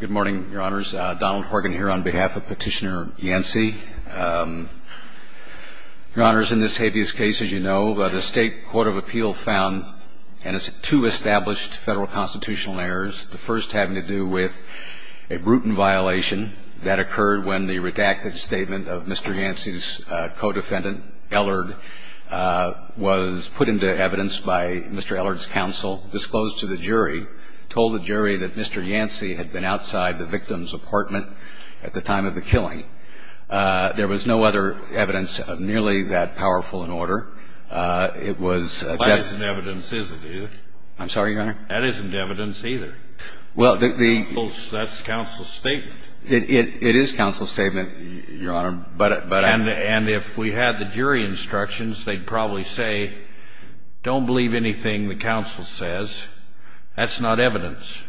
Good morning, Your Honors. Donald Horgan here on behalf of Petitioner Yancey. Your Honors, in this habeas case, as you know, the State Court of Appeal found two established federal constitutional errors, the first having to do with a brutal violation that occurred when the redacted statement of Mr. Yancey's co-defendant, Ellard, was put into evidence by Mr. Ellard's counsel, disclosed to the jury, told the jury that Mr. Yancey had been outside the victim's apartment at the time of the killing. There was no other evidence of nearly that powerful an order. It was that the- That isn't evidence, is it, either? I'm sorry, Your Honor? That isn't evidence, either. Well, the- That's counsel's statement. It is counsel's statement, Your Honor, but- And if we had the jury instructions, they'd probably say, don't believe anything the counsel says. That's not evidence.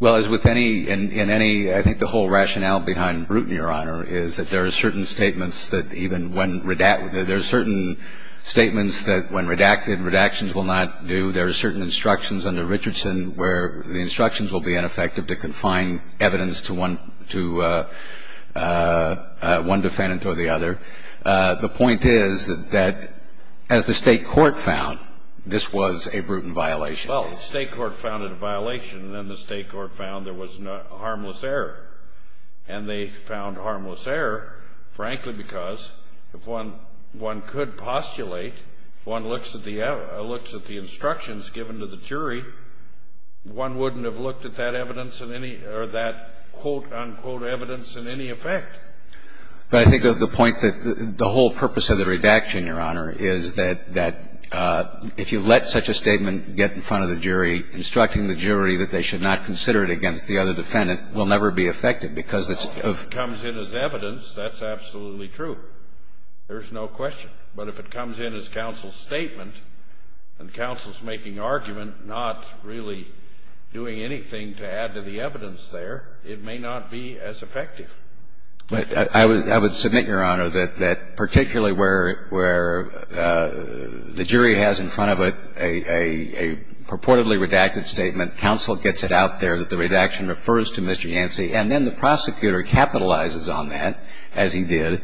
Well, as with any – in any – I think the whole rationale behind Bruton, Your Honor, is that there are certain statements that even when – there are certain statements that when redacted, redactions will not do. There are certain instructions under Richardson where the instructions will be ineffective to confine evidence to one – to one defendant or the other. The point is that as the State court found, this was a Bruton violation. Well, the State court found it a violation, and then the State court found there was harmless error. And they found harmless error, frankly, because if one – one could postulate, if one looks at the – looks at the instructions given to the jury, one wouldn't have looked at that evidence in any – or that, quote, unquote, evidence in any effect. But I think the point that – the whole purpose of the redaction, Your Honor, is that – that if you let such a statement get in front of the jury, instructing the jury that they should not consider it against the other defendant will never be effective because it's – Well, if it comes in as evidence, that's absolutely true. There's no question. But if it comes in as counsel's statement and counsel's making argument, not really doing anything to add to the evidence there, it may not be as effective. But I would – I would submit, Your Honor, that particularly where – where the jury has in front of it a purportedly redacted statement, counsel gets it out there that the redaction refers to Mr. Yancey, and then the prosecutor capitalizes on that, as he did,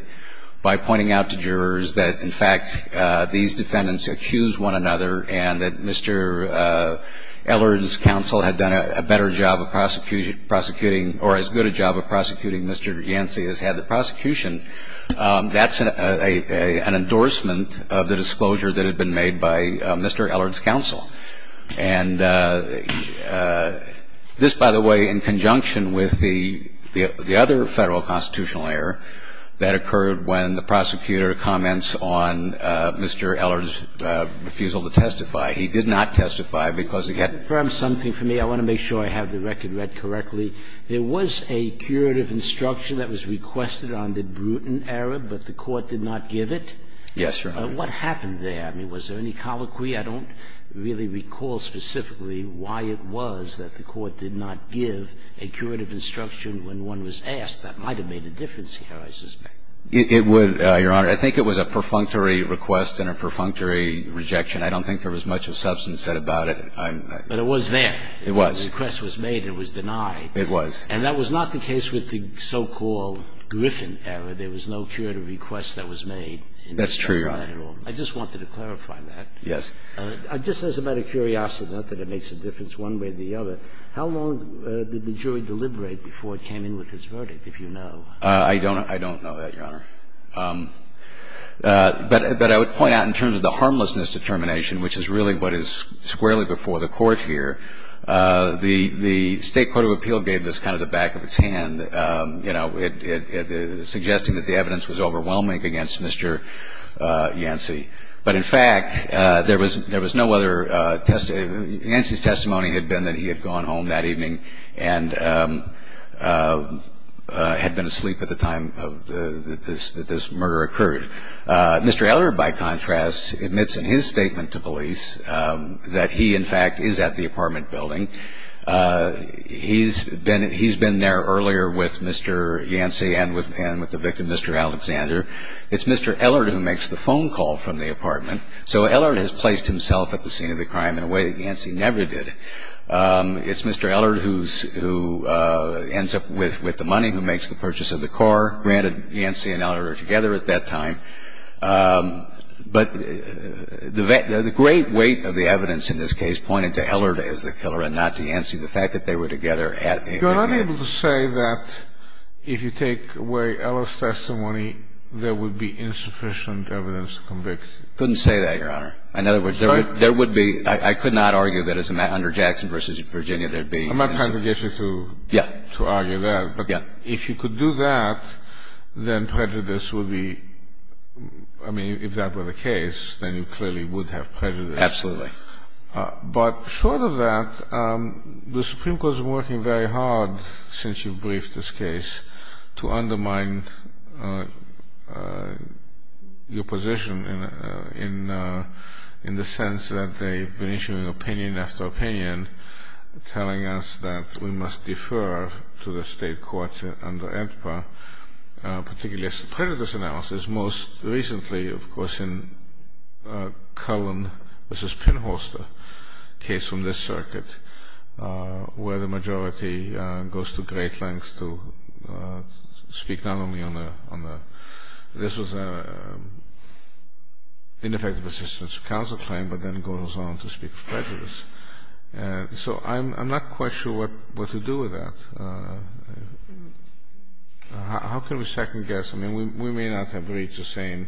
by pointing out to jurors that, in fact, these defendants accused one another and that Mr. Eller's counsel had done a better job of prosecuting – prosecuting or as good a job of prosecuting Mr. Yancey as had the prosecution, that's an endorsement of the disclosure that had been made by Mr. Eller's counsel. And this, by the way, in conjunction with the – the other Federal constitutional error that occurred when the prosecutor comments on Mr. Eller's refusal to testify. He did not testify because he had – It was a curation of instruction, I think. But there was something for me – I want to make sure I have the record read correctly. There was a curative instruction that was requested on the brutal error, but the court did not give it. Yes, Your Honor. What happened there? I mean, was there any colloquy? I don't really recall specifically why it was that the court did not give a curative instruction when one was asked. That might have made a difference here, I suspect. It would, Your Honor. I think it was a perfunctory request and a perfunctory rejection. I don't think there was much of substance said about it. But it was there. It was. The request was made and it was denied. It was. And that was not the case with the so-called Griffin error. There was no curative request that was made. That's true, Your Honor. I just wanted to clarify that. Yes. Just as a matter of curiosity, not that it makes a difference one way or the other, how long did the jury deliberate before it came in with its verdict, if you know? I don't know that, Your Honor. But I would point out in terms of the harmlessness determination, which is really what is squarely before the court here, the State Court of Appeal gave this kind of the back of its hand, you know, suggesting that the evidence was overwhelming against Mr. Yancey. But in fact, there was no other testimony. Yancey's testimony had been that he had gone home that evening and had been asleep at the time that this murder occurred. Mr. Ellard, by contrast, admits in his statement to police that he, in fact, is at the apartment building. He's been there earlier with Mr. Yancey and with the victim, Mr. Alexander. It's Mr. Ellard who makes the phone call from the apartment. So Ellard has placed himself at the scene of the crime in a way that Yancey never did. It's Mr. Ellard who ends up with the money, who makes the purchase of the car. Granted, Yancey and Ellard are together at that time. But the great weight of the evidence in this case pointed to Ellard as the killer and not to Yancey. The fact that they were together at the event. You are unable to say that if you take away Ellard's testimony, there would be insufficient evidence to convict him. Couldn't say that, Your Honor. In other words, there would be – I could not argue that as an interjection versus Virginia. There would be – I'm not trying to get you to argue that. But if you could do that, then prejudice would be – I mean, if that were the case, then you clearly would have prejudice. Absolutely. But short of that, the Supreme Court has been working very hard since you briefed this case to undermine your position in the sense that they've been issuing opinion after opinion, telling us that we must defer to the State Courts under AEDPA, particularly as to prejudice analysis. Most recently, of course, in Cullen v. Pinholster, a case from this circuit, where the majority goes to great lengths to speak not only on the – this was an ineffective assistance counsel claim, but then goes on to speak of prejudice. So I'm not quite sure what to do with that. How can we second-guess? I mean, we may not have reached the same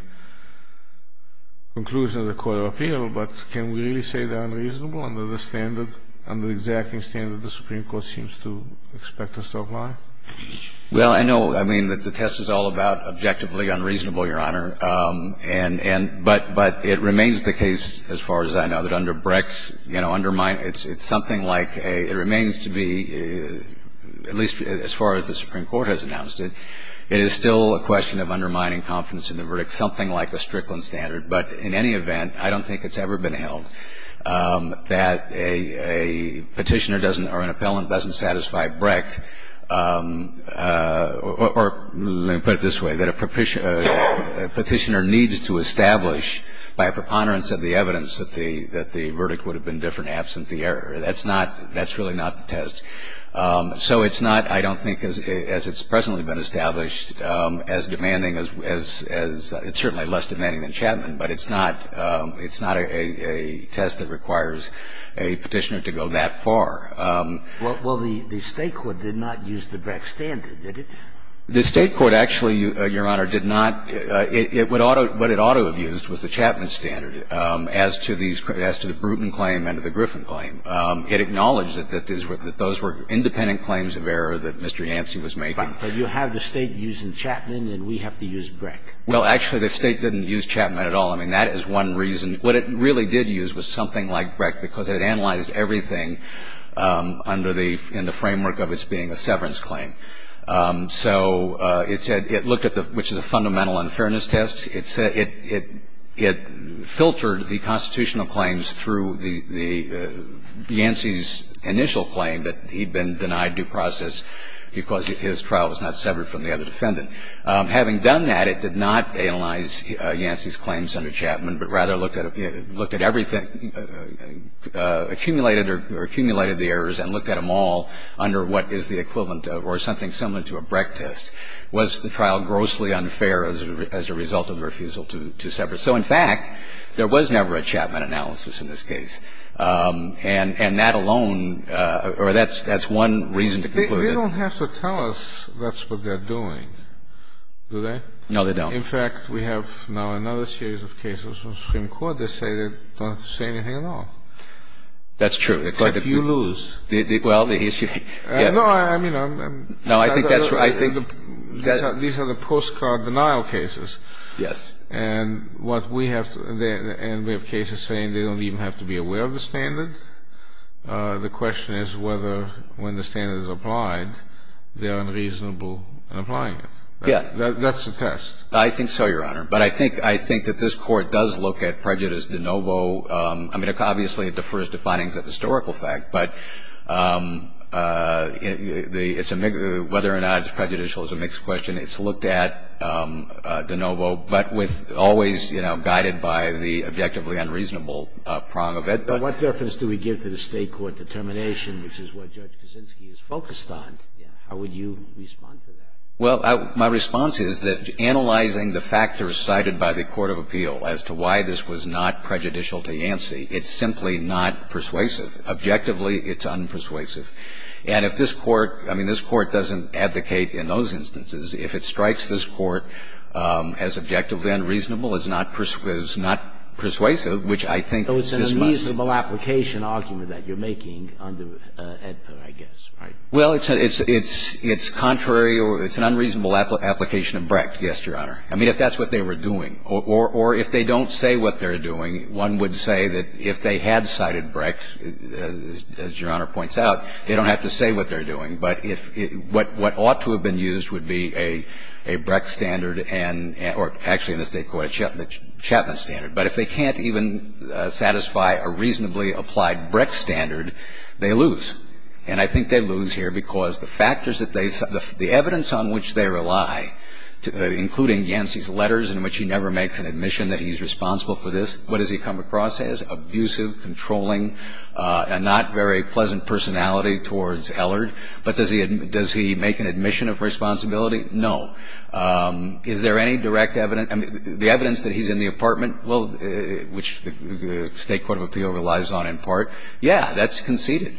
conclusion as the Court of Appeal, but can we really under the standard – under the exacting standard the Supreme Court seems to expect us to apply? Well, I know – I mean, the test is all about objectively unreasonable, Your Honor. But it remains the case, as far as I know, that under BRICS, you know, undermine – it's something like a – it remains to be, at least as far as the Supreme Court has announced it, it is still a question of undermining confidence in the verdict, something like a Strickland standard. But in any event, I don't think it's ever been held that a petitioner doesn't – or an appellant doesn't satisfy BRICS – or let me put it this way, that a petitioner needs to establish by a preponderance of the evidence that the – that the verdict would have been different absent the error. That's not – that's really not the test. So it's not, I don't think, as it's presently been established, as demanding as – it's certainly less demanding than Chapman, but it's not – it's not a test that requires a petitioner to go that far. Well, the State court did not use the BRICS standard, did it? The State court actually, Your Honor, did not – it would – what it ought to have used was the Chapman standard as to these – as to the Bruton claim and the Griffin claim. It acknowledged that those were independent claims of error that Mr. Yancey was making. But you have the State using Chapman and we have to use BRICS. Well, actually, the State didn't use Chapman at all. I mean, that is one reason. What it really did use was something like BRICS, because it had analyzed everything under the – in the framework of its being a severance claim. So it said – it looked at the – which is a fundamental unfairness test. It said – it filtered the constitutional claims through the – Yancey's initial claim that he'd been denied due process because his trial was not severed from the other defendant. Having done that, it did not analyze Yancey's claims under Chapman, but rather looked at – looked at everything – accumulated or accumulated the errors and looked at them all under what is the equivalent of – or something similar to a BRIC test. Was the trial grossly unfair as a result of refusal to sever? So, in fact, there was never a Chapman analysis in this case. And that alone – or that's one reason to conclude it. They don't have to tell us that's what they're doing, do they? No, they don't. In fact, we have now another series of cases from Supreme Court that say they don't have to say anything at all. That's true. Except you lose. Well, the issue – No, I mean, I'm – No, I think that's – I think – These are the postcard denial cases. Yes. And what we have – and we have cases saying they don't even have to be aware of the standard. The question is whether, when the standard is applied, they're unreasonable in applying it. Yes. That's the test. I think so, Your Honor. But I think – I think that this Court does look at prejudice de novo. I mean, obviously, it defers to findings of historical fact, but it's a – whether or not it's prejudicial is a mixed question. It's looked at de novo, but with – always, you know, guided by the objectively unreasonable prong of it. But what reference do we give to the State court determination, which is what Judge Kuczynski is focused on? How would you respond to that? Well, my response is that analyzing the factors cited by the Court of Appeal as to why this was not prejudicial to Yancey, it's simply not persuasive. Objectively, it's unpersuasive. And if this Court – I mean, this Court doesn't advocate in those instances. If it strikes this Court as objectively unreasonable, it's not persuasive, which I think this must be. So it's an unreasonable application argument that you're making under AEDPA, I guess, right? Well, it's contrary or it's an unreasonable application of Brecht, yes, Your Honor. I mean, if that's what they were doing. Or if they don't say what they're doing, one would say that if they had cited Brecht, as Your Honor points out, they don't have to say what they're doing. But if – what ought to have been used would be a Brecht standard and – or actually in this State court, a Chapman standard. But if they can't even satisfy a reasonably applied Brecht standard, they lose. And I think they lose here because the factors that they – the evidence on which they rely, including Yancey's letters in which he never makes an admission that he's responsible for this, what does he come across as? Abusive, controlling, a not very pleasant personality towards Ellard? But does he – does he make an admission of responsibility? No. Is there any direct evidence – I mean, the evidence that he's in the apartment, well, which the State court of appeal relies on in part, yeah, that's conceded.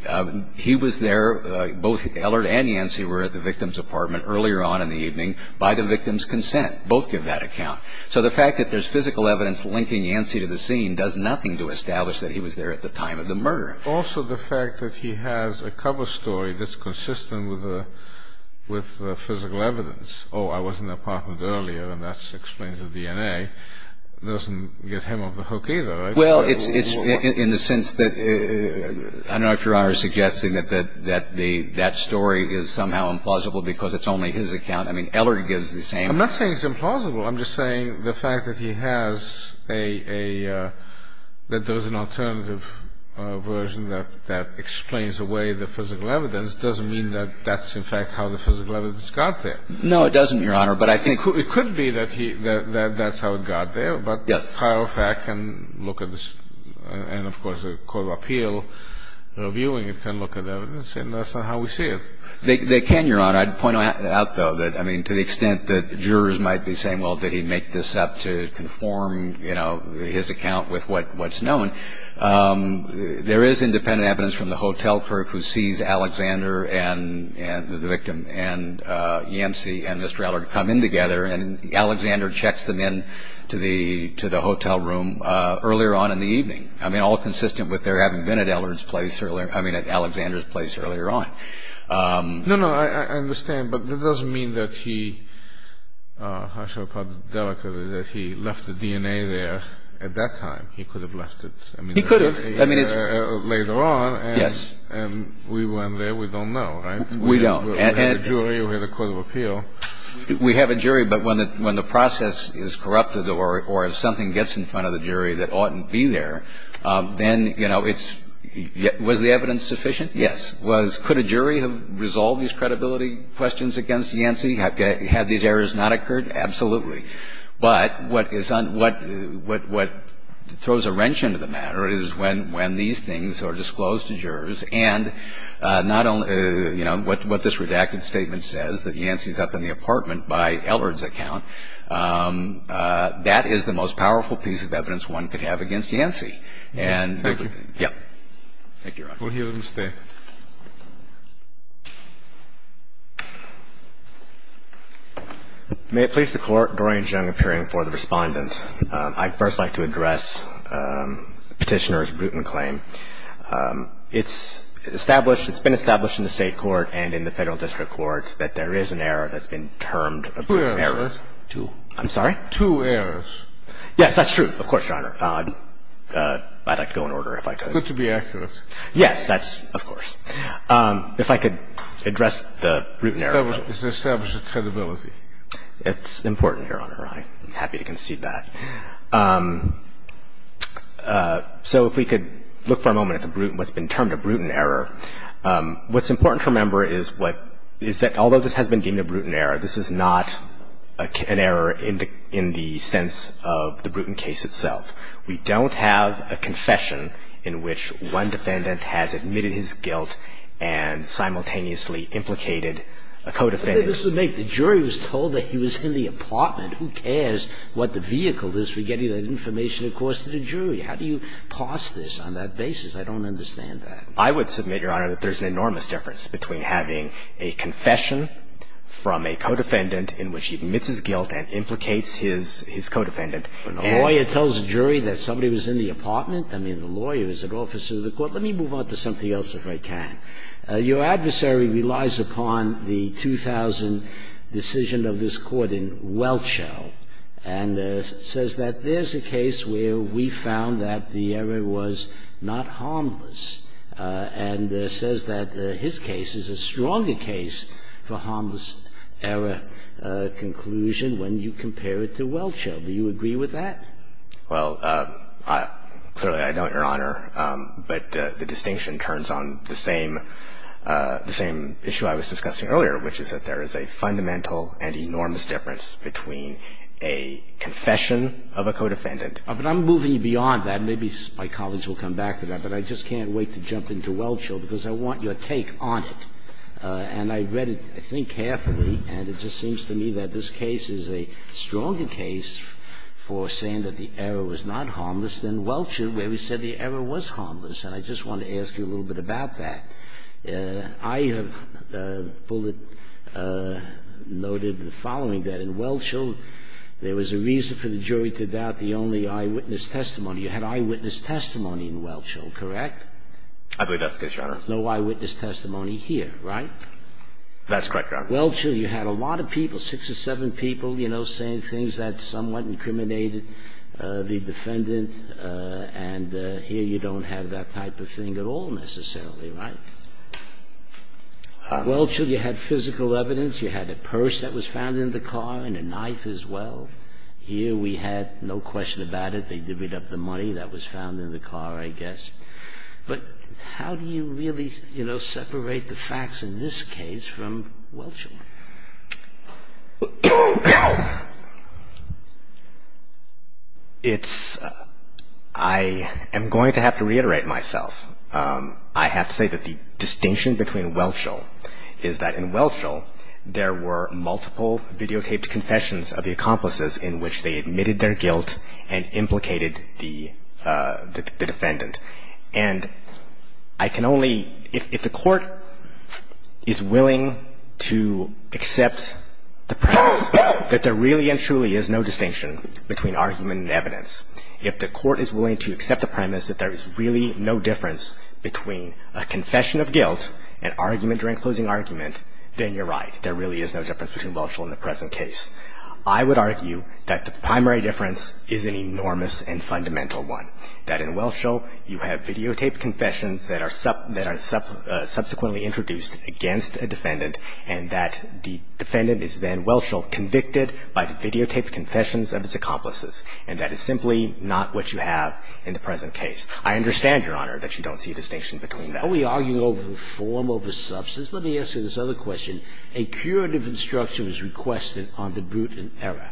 He was there, both Ellard and Yancey were at the victim's apartment earlier on in the evening by the victim's consent. Both give that account. So the fact that there's physical evidence linking Yancey to the scene does nothing to establish that he was there at the time of the murder. Also the fact that he has a cover story that's consistent with the – with the physical evidence, oh, I was in the apartment earlier and that explains the DNA, doesn't get him off the hook either, right? Well, it's – it's in the sense that – I don't know if Your Honor is suggesting that the – that story is somehow implausible because it's only his account. I mean, Ellard gives the same – I'm not saying it's implausible. I'm just saying the fact that he has a – a – that there's an alternative version that – that explains away the physical evidence doesn't mean that that's in fact how the physical evidence got there. No, it doesn't, Your Honor, but I think – It could be that he – that that's how it got there, but – Yes. – FIROFAC can look at this and, of course, the court of appeal reviewing it can look at evidence and that's not how we see it. They can, Your Honor. I'd point out, though, that, I mean, to the extent that jurors might be saying, well, did he make this up to conform, you know, his account with what – what's known, there is independent evidence from the hotel clerk who sees Alexander and – and the victim and Yancey and Mr. Ellard come in together and Alexander checks them in to the – to the hotel room earlier on in the evening. I mean, all consistent with their having been at Ellard's place earlier – I mean, at Alexander's place earlier on. No, no. I – I understand, but that doesn't mean that he – I shall put it delicately that he left the DNA there at that time. He could have left it, I mean – He could have. I mean, it's – Later on. Yes. And we weren't there. We don't know, right? We don't. And – We have a jury. We have a court of appeal. We have a jury, but when the – when the process is corrupted or – or if something gets in front of the jury that oughtn't be there, then, you know, it's – was the evidence sufficient? Yes. Was – could a jury have resolved these credibility questions against Yancey? Had these errors not occurred? Absolutely. But what is on – what – what throws a wrench into the matter is when – when these things are disclosed to jurors and not only – you know, what this redacted statement says, that Yancey's up in the apartment by Ellard's account, that is the most powerful piece of evidence one could have against Yancey. And – Thank you. Yep. Thank you, Your Honor. We'll hear the mistake. May it please the Court, Doreen Jung appearing for the Respondent. I'd first like to address Petitioner's Bruton claim. It's established – it's been established in the State court and in the Federal District Court that there is an error that's been termed a Bruton error. Two errors. Two. I'm sorry? Two errors. Yes, that's true. Of course, Your Honor. I'd like to go in order if I could. Good to be accurate. Yes, that's – of course. If I could address the Bruton error. It's established credibility. It's important, Your Honor. I'm happy to concede that. So if we could look for a moment at the Bruton – what's been termed a Bruton error. What's important to remember is what – is that although this has been deemed a Bruton error, this is not an error in the – in the sense of the Bruton case itself. We don't have a confession in which one defendant has admitted his guilt and simultaneously implicated a co-defendant. But then this would make – the jury was told that he was in the apartment. Who cares what the vehicle is for getting that information, of course, to the jury? How do you parse this on that basis? I don't understand that. I would submit, Your Honor, that there's an enormous difference between having a confession from a co-defendant in which he admits his guilt and implicates his co-defendant. And a lawyer tells a jury that somebody was in the apartment. I mean, the lawyer is an officer of the court. Let me move on to something else, if I can. Your adversary relies upon the 2000 decision of this Court in Welchell and says that there's a case where we found that the error was not harmless, and says that his case is a stronger case for harmless error conclusion when you compare it to Welchell. Do you agree with that? Well, clearly, I don't, Your Honor, but the distinction turns on the same – the same issue I was discussing earlier, which is that there is a fundamental and enormous difference between a confession of a co-defendant. But I'm moving beyond that. Maybe my colleagues will come back to that. But I just can't wait to jump into Welchell, because I want your take on it. And I read it, I think, carefully, and it just seems to me that this case is a stronger case for saying that the error was not harmless than Welchell, where we said the error was harmless. And I just want to ask you a little bit about that. I have noted the following, that in Welchell, there was a reason for the jury to doubt the only eyewitness testimony. You had eyewitness testimony in Welchell, correct? I believe that's the case, Your Honor. That's correct, Your Honor. In Welchell, you had a lot of people, six or seven people, you know, saying things that somewhat incriminated the defendant. And here you don't have that type of thing at all, necessarily, right? In Welchell, you had physical evidence. You had a purse that was found in the car and a knife as well. Here we had no question about it. They divvied up the money that was found in the car, I guess. But how do you really, you know, separate the facts in this case from Welchell? Well, it's – I am going to have to reiterate myself. I have to say that the distinction between Welchell is that in Welchell, there were multiple videotaped confessions of the accomplices in which they admitted their guilt and implicated the defendant. And I can only – if the court is willing to accept the premise that there really and truly is no distinction between argument and evidence, if the court is willing to accept the premise that there is really no difference between a confession of guilt and argument during closing argument, then you're right. There really is no difference between Welchell and the present case. I would argue that the primary difference is an enormous and fundamental one, that in Welchell, you have videotaped confessions that are subsequently introduced against a defendant, and that the defendant is then, Welchell, convicted by videotaped confessions of his accomplices. And that is simply not what you have in the present case. I understand, Your Honor, that you don't see a distinction between them. Are we arguing over form over substance? Let me ask you this other question. A curative instruction was requested on the Bruton error,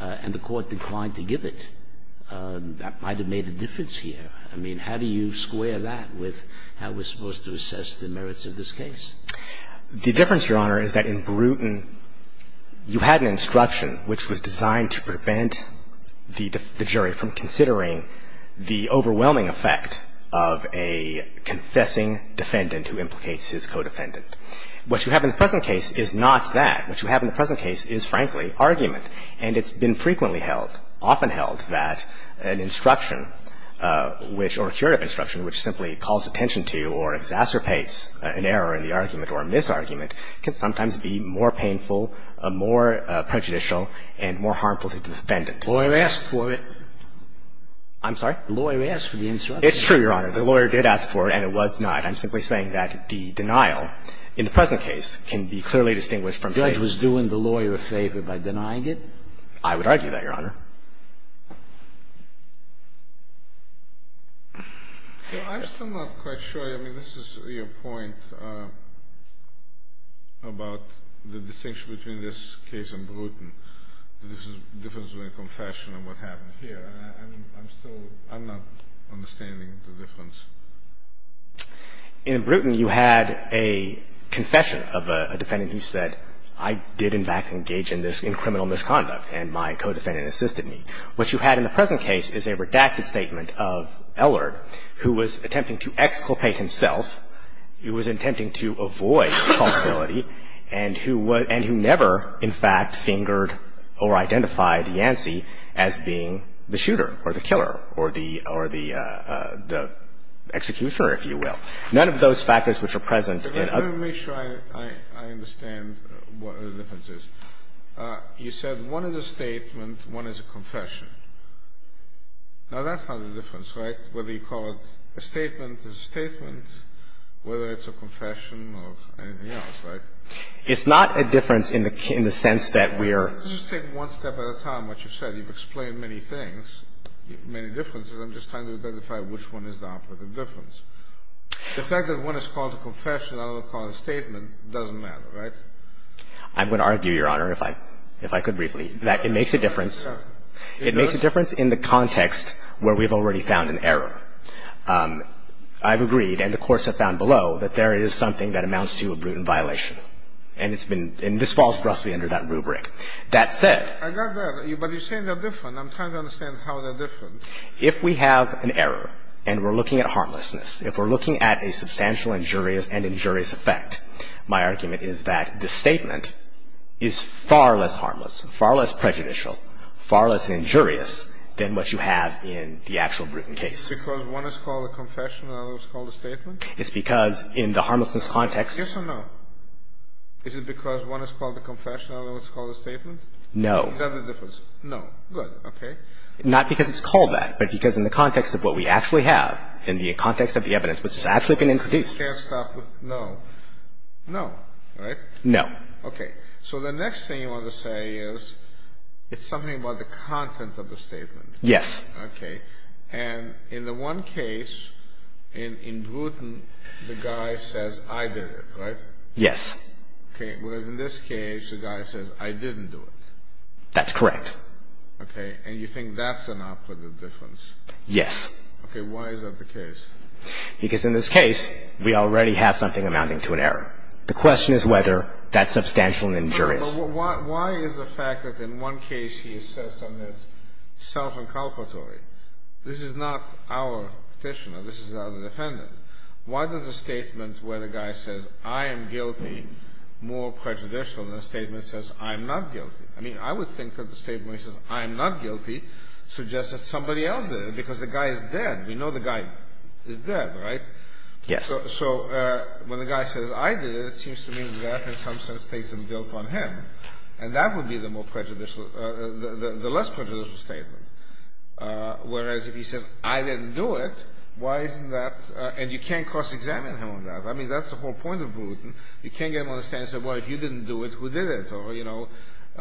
and the court declined to give it. That might have made a difference here. I mean, how do you square that with how we're supposed to assess the merits of this case? The difference, Your Honor, is that in Bruton, you had an instruction which was designed to prevent the jury from considering the overwhelming effect of a confessing defendant who implicates his co-defendant. What you have in the present case is not that. What you have in the present case is, frankly, argument. And it's been frequently held, often held, that an instruction which or a curative instruction which simply calls attention to or exacerbates an error in the argument or a misargument can sometimes be more painful, more prejudicial, and more harmful to the defendant. The lawyer asked for it. I'm sorry? The lawyer asked for the instruction. It's true, Your Honor. The lawyer did ask for it, and it was denied. I'm simply saying that the denial in the present case can be clearly distinguished from faith. The judge was doing the lawyer a favor by denying it? I would argue that, Your Honor. I'm still not quite sure. I mean, this is your point about the distinction between this case and Bruton, the difference between confession and what happened here. I'm still not understanding the difference. In Bruton, you had a confession of a defendant who said, I did, in fact, engage in this, in criminal misconduct, and my co-defendant assisted me. What you had in the present case is a redacted statement of Ellard, who was attempting to exculpate himself, who was attempting to avoid culpability, and who never, in fact, fingered or identified Yancey as being the shooter or the killer or the executioner, if you will. None of those factors which are present in other cases. Let me make sure I understand what the difference is. You said one is a statement, one is a confession. Now, that's not the difference, right, whether you call it a statement, a statement, whether it's a confession or anything else, right? It's not a difference in the sense that we're – Let's just take one step at a time, what you've said. You've explained many things, many differences. I'm just trying to identify which one is the operative difference. The fact that one is called a confession and the other is called a statement doesn't matter, right? I would argue, Your Honor, if I could briefly, that it makes a difference. It does? It makes a difference in the context where we've already found an error. I've agreed, and the courts have found below, that there is something that amounts to a brutal violation, and it's been – and this falls roughly under that rubric. That said – I got that, but you're saying they're different. I'm trying to understand how they're different. If we have an error, and we're looking at harmlessness, if we're looking at a substantial injurious and injurious effect, my argument is that the statement is far less harmless, far less prejudicial, far less injurious than what you have in the actual Bruton case. Because one is called a confession and the other is called a statement? It's because in the harmlessness context – Yes or no? Is it because one is called a confession and the other is called a statement? No. Is that the difference? No. Good, okay. Not because it's called that, but because in the context of what we actually have, in the context of the evidence, which has actually been introduced. You can't stop with no. No, right? No. Okay. So the next thing you want to say is it's something about the content of the statement. Yes. Okay. And in the one case, in Bruton, the guy says, I did it, right? Yes. Okay. Whereas in this case, the guy says, I didn't do it. That's correct. Okay. And you think that's an operative difference? Yes. Okay. Why is that the case? Because in this case, we already have something amounting to an error. The question is whether that's substantial in injurious. No, but why is the fact that in one case he says something that's self-inculpatory? This is not our Petitioner. This is our defendant. Why does a statement where the guy says, I am guilty, more prejudicial than a statement that says, I'm not guilty? I mean, I would think that the statement where he says, I'm not guilty, suggests that somebody else did it, because the guy is dead. We know the guy is dead, right? Yes. So when the guy says, I did it, it seems to me that in some sense takes some guilt on him, and that would be the more prejudicial, the less prejudicial statement. Whereas if he says, I didn't do it, why isn't that, and you can't cross-examine him on that. I mean, that's the whole point of Bruton. You can't get him on the stand and say, well, if you didn't do it, who did it? Or, you know,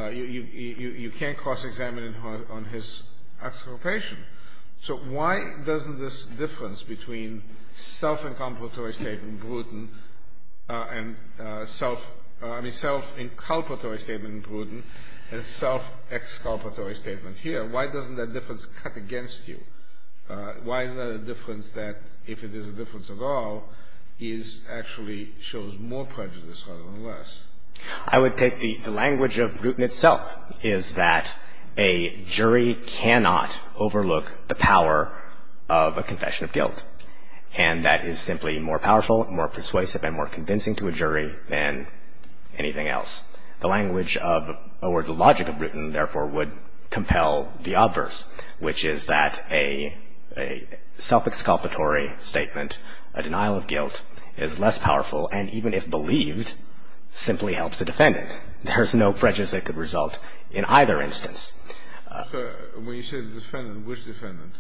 you can't cross-examine him on his exculpation. So why doesn't this difference between self-inculpatory statement in Bruton and self-exculpatory statement here, why doesn't that difference cut against you? Why is that a difference that, if it is a difference at all, is actually shows more prejudice rather than less? I would take the language of Bruton itself is that a jury cannot overlook the power of a confession of guilt. And that is simply more powerful, more persuasive, and more convincing to a jury than anything else. The language of, or the logic of Bruton, therefore, would compel the obverse, which is that a self-exculpatory statement, a denial of guilt, is less powerful, and even if believed, simply helps the defendant. There's no prejudice that could result in either instance. So when you say the defendant, which defendant?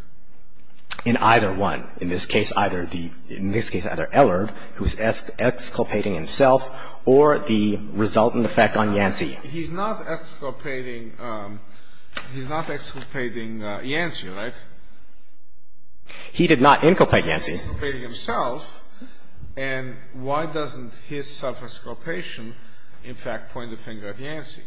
In either one. In this case, either the, in this case, either Ellard, who's exculpating himself, or the resultant effect on Yancey. He's not exculpating, he's not exculpating Yancey, right? He did not inculpate Yancey. He's not inculpating himself, and why doesn't his self-exculpation, in fact, point the finger at Yancey?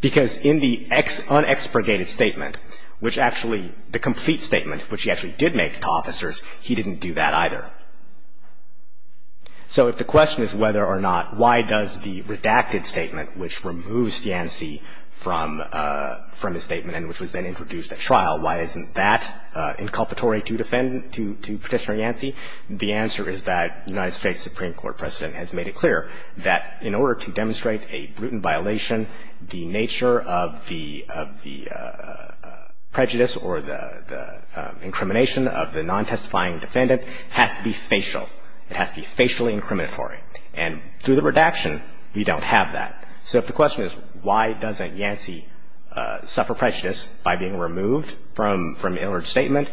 Because in the unexpurgated statement, which actually, the complete statement, which he actually did make to officers, he didn't do that either. So if the question is whether or not, why does the redacted statement, which removes Yancey from his statement and which was then introduced at trial, why isn't that inculpatory to defend, to, to Petitioner Yancey? The answer is that United States Supreme Court precedent has made it clear that in order to demonstrate a brutal violation, the nature of the, of the prejudice or the, the incrimination of the non-testifying defendant has to be facial. It has to be facially incriminatory. And through the redaction, we don't have that. So if the question is why doesn't Yancey suffer prejudice by being removed from, from an Ellard statement,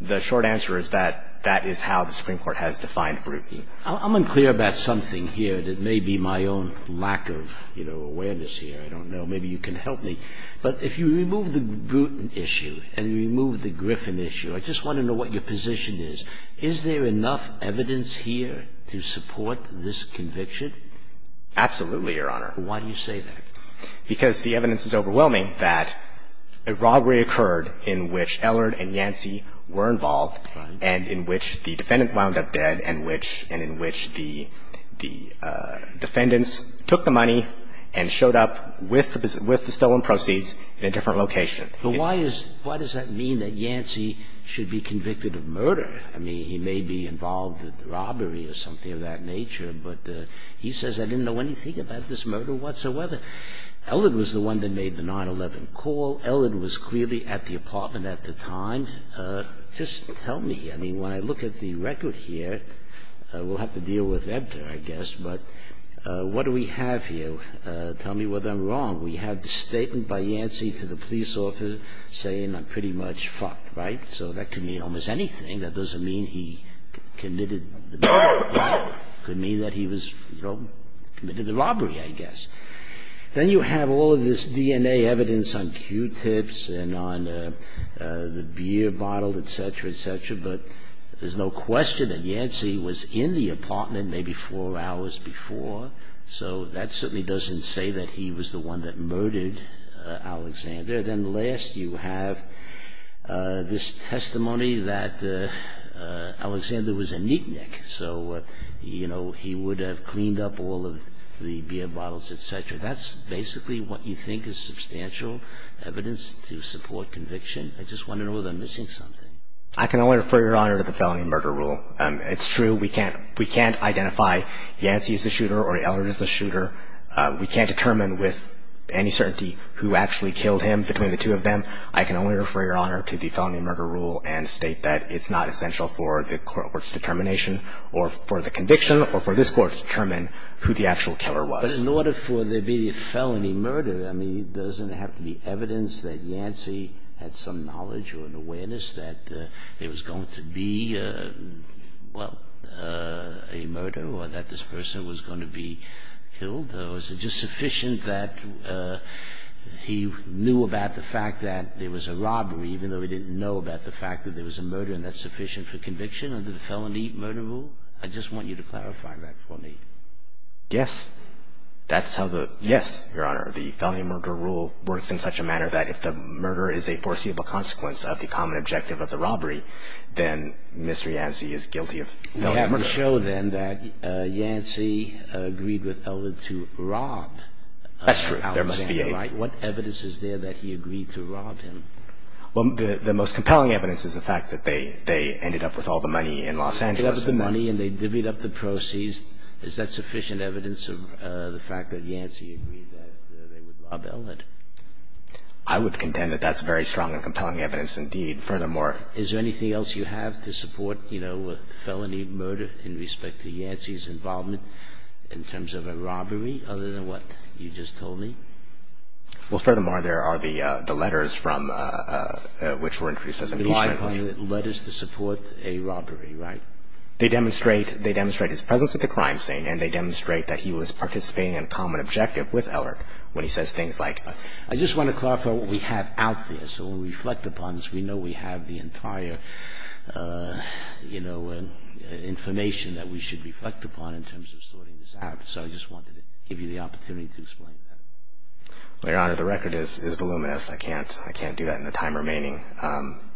the short answer is that, that is how the Supreme Court has defined brutiny. I'm unclear about something here that may be my own lack of, you know, awareness here. I don't know. Maybe you can help me. But if you remove the Bruton issue and you remove the Griffin issue, I just want to know what your position is. Is there enough evidence here to support this conviction? Absolutely, Your Honor. Why do you say that? Because the evidence is overwhelming that a robbery occurred in which Ellard and Yancey were involved and in which the defendant wound up dead and which, and in which the, the defendants took the money and showed up with, with the stolen proceeds in a different location. But why is, why does that mean that Yancey should be convicted of murder? I mean, he may be involved in robbery or something of that nature, but he says, I didn't know anything about this murder whatsoever. Ellard was the one that made the 9-11 call. Ellard was clearly at the apartment at the time. Just tell me. I mean, when I look at the record here, we'll have to deal with Ebter, I guess. But what do we have here? Tell me whether I'm wrong. We have the statement by Yancey to the police officer saying I'm pretty much fucked, right? So that could mean almost anything. That doesn't mean he committed the murder. It could mean that he was, you know, committed the robbery, I guess. Then you have all of this DNA evidence on Q-tips and on the beer bottle, et cetera, et cetera. But there's no question that Yancey was in the apartment maybe four hours before. So that certainly doesn't say that he was the one that murdered Alexander. Then last you have this testimony that Alexander was a neatnik. So, you know, he would have cleaned up all of the beer bottles, et cetera. That's basically what you think is substantial evidence to support conviction. I just wonder whether I'm missing something. I can only refer your honor to the felony murder rule. It's true, we can't identify Yancey as the shooter or Ellard as the shooter. We can't determine with any certainty who actually killed him between the two of them. I can only refer your honor to the felony murder rule and state that it's not essential for the court's determination or for the conviction or for this court to determine who the actual killer was. But in order for there to be a felony murder, I mean, doesn't it have to be evidence that Yancey had some knowledge or an awareness that there was going to be, well, a murder or that this person was going to be killed? Or was it just sufficient that he knew about the fact that there was a robbery, even though he didn't know about the fact that there was a murder and that's sufficient for conviction under the felony murder rule? I just want you to clarify that for me. Yes. That's how the yes, your honor. The felony murder rule works in such a manner that if the murder is a foreseeable consequence of the common objective of the robbery, then Mr. Yancey is guilty of felony murder. We have to show then that Yancey agreed with Ellard to rob Alexander Wright. That's true. There must be a right. What evidence is there that he agreed to rob him? Well, the most compelling evidence is the fact that they, they ended up with all the money in Los Angeles and they divvied up the proceeds. Is that sufficient evidence of the fact that Yancey agreed that they would rob Ellard? I would contend that that's very strong and compelling evidence. Indeed. Furthermore, is there anything else you have to support, you know, felony murder in respect to Yancey's involvement in terms of a robbery other than what you just told me? Well, furthermore, there are the letters from, which were introduced as impeachment. The letters to support a robbery, right? They demonstrate, they demonstrate his presence at the crime scene and they demonstrate that he was participating in a common objective with Ellard when he says things like. I just want to clarify what we have out there. So when we reflect upon this, we know we have the entire, you know, information that we should reflect upon in terms of sorting this out. So I just wanted to give you the opportunity to explain that. Well, Your Honor, the record is voluminous. I can't, I can't do that in the time remaining.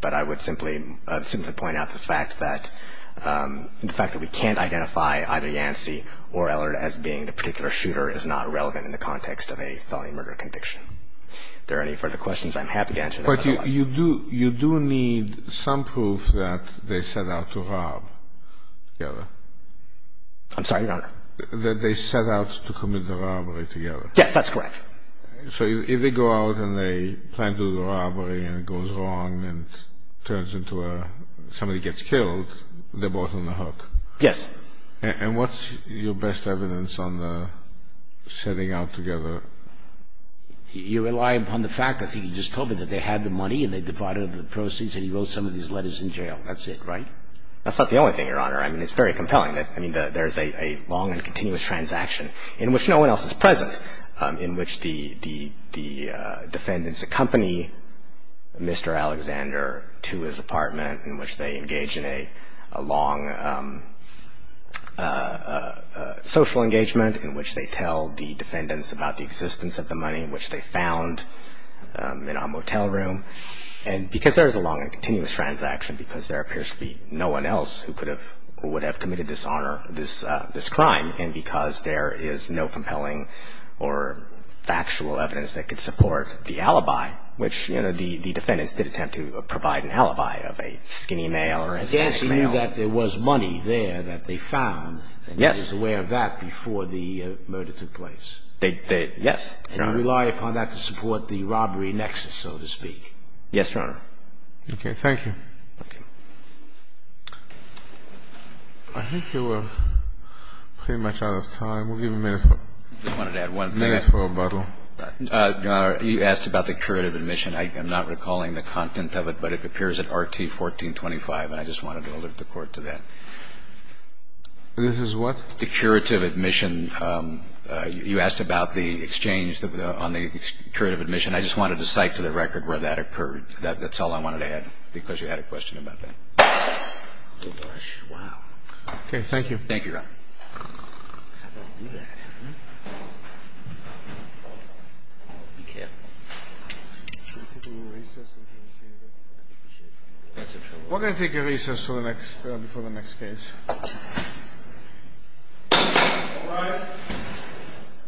But I would simply, simply point out the fact that, the fact that we can't identify either Yancey or Ellard as being the particular shooter is not relevant in the context of a felony murder conviction. If there are any further questions, I'm happy to answer them. But you do, you do need some proof that they set out to rob together. I'm sorry, Your Honor? That they set out to commit the robbery together. Yes, that's correct. So if they go out and they plan to do the robbery and it goes wrong and turns into a, somebody gets killed, they're both on the hook? Yes. And what's your best evidence on the setting out together? You rely upon the fact, I think you just told me, that they had the money and they divided up the proceeds and he wrote some of these letters in jail. That's it, right? That's not the only thing, Your Honor. I mean, it's very compelling. I mean, there's a long and continuous transaction in which no one else is present, in which the defendants accompany Mr. Alexander to his apartment, in which they engage in a long social engagement, in which they tell the defendants about the existence of the money, in which they found in a motel room. And because there is a long and continuous transaction, because there appears to be no one else who could have or would have committed this crime, and because there is no compelling or factual evidence that could support the alibi, which, you know, the defendants did attempt to provide an alibi of a skinny male or a skinny male. So you're saying that there was money there that they found and he was aware of that before the murder took place? Yes, Your Honor. And you rely upon that to support the robbery nexus, so to speak? Yes, Your Honor. Okay. Thank you. I think we're pretty much out of time. We'll give a minute for a bottle. I just wanted to add one thing. Your Honor, you asked about the curative admission. I am not recalling the content of it, but it appears at Rt. 1425, and I just wanted to alert the Court to that. This is what? The curative admission. You asked about the exchange on the curative admission. I just wanted to cite to the record where that occurred. That's all I wanted to add, because you had a question about that. Oh, gosh. Wow. Okay. Thank you. Thank you, Your Honor. How'd I do that, huh? Be careful. Should we take a little recess until we see you again? I think we should. That's a trouble. Why don't I take a recess before the next case? All rise.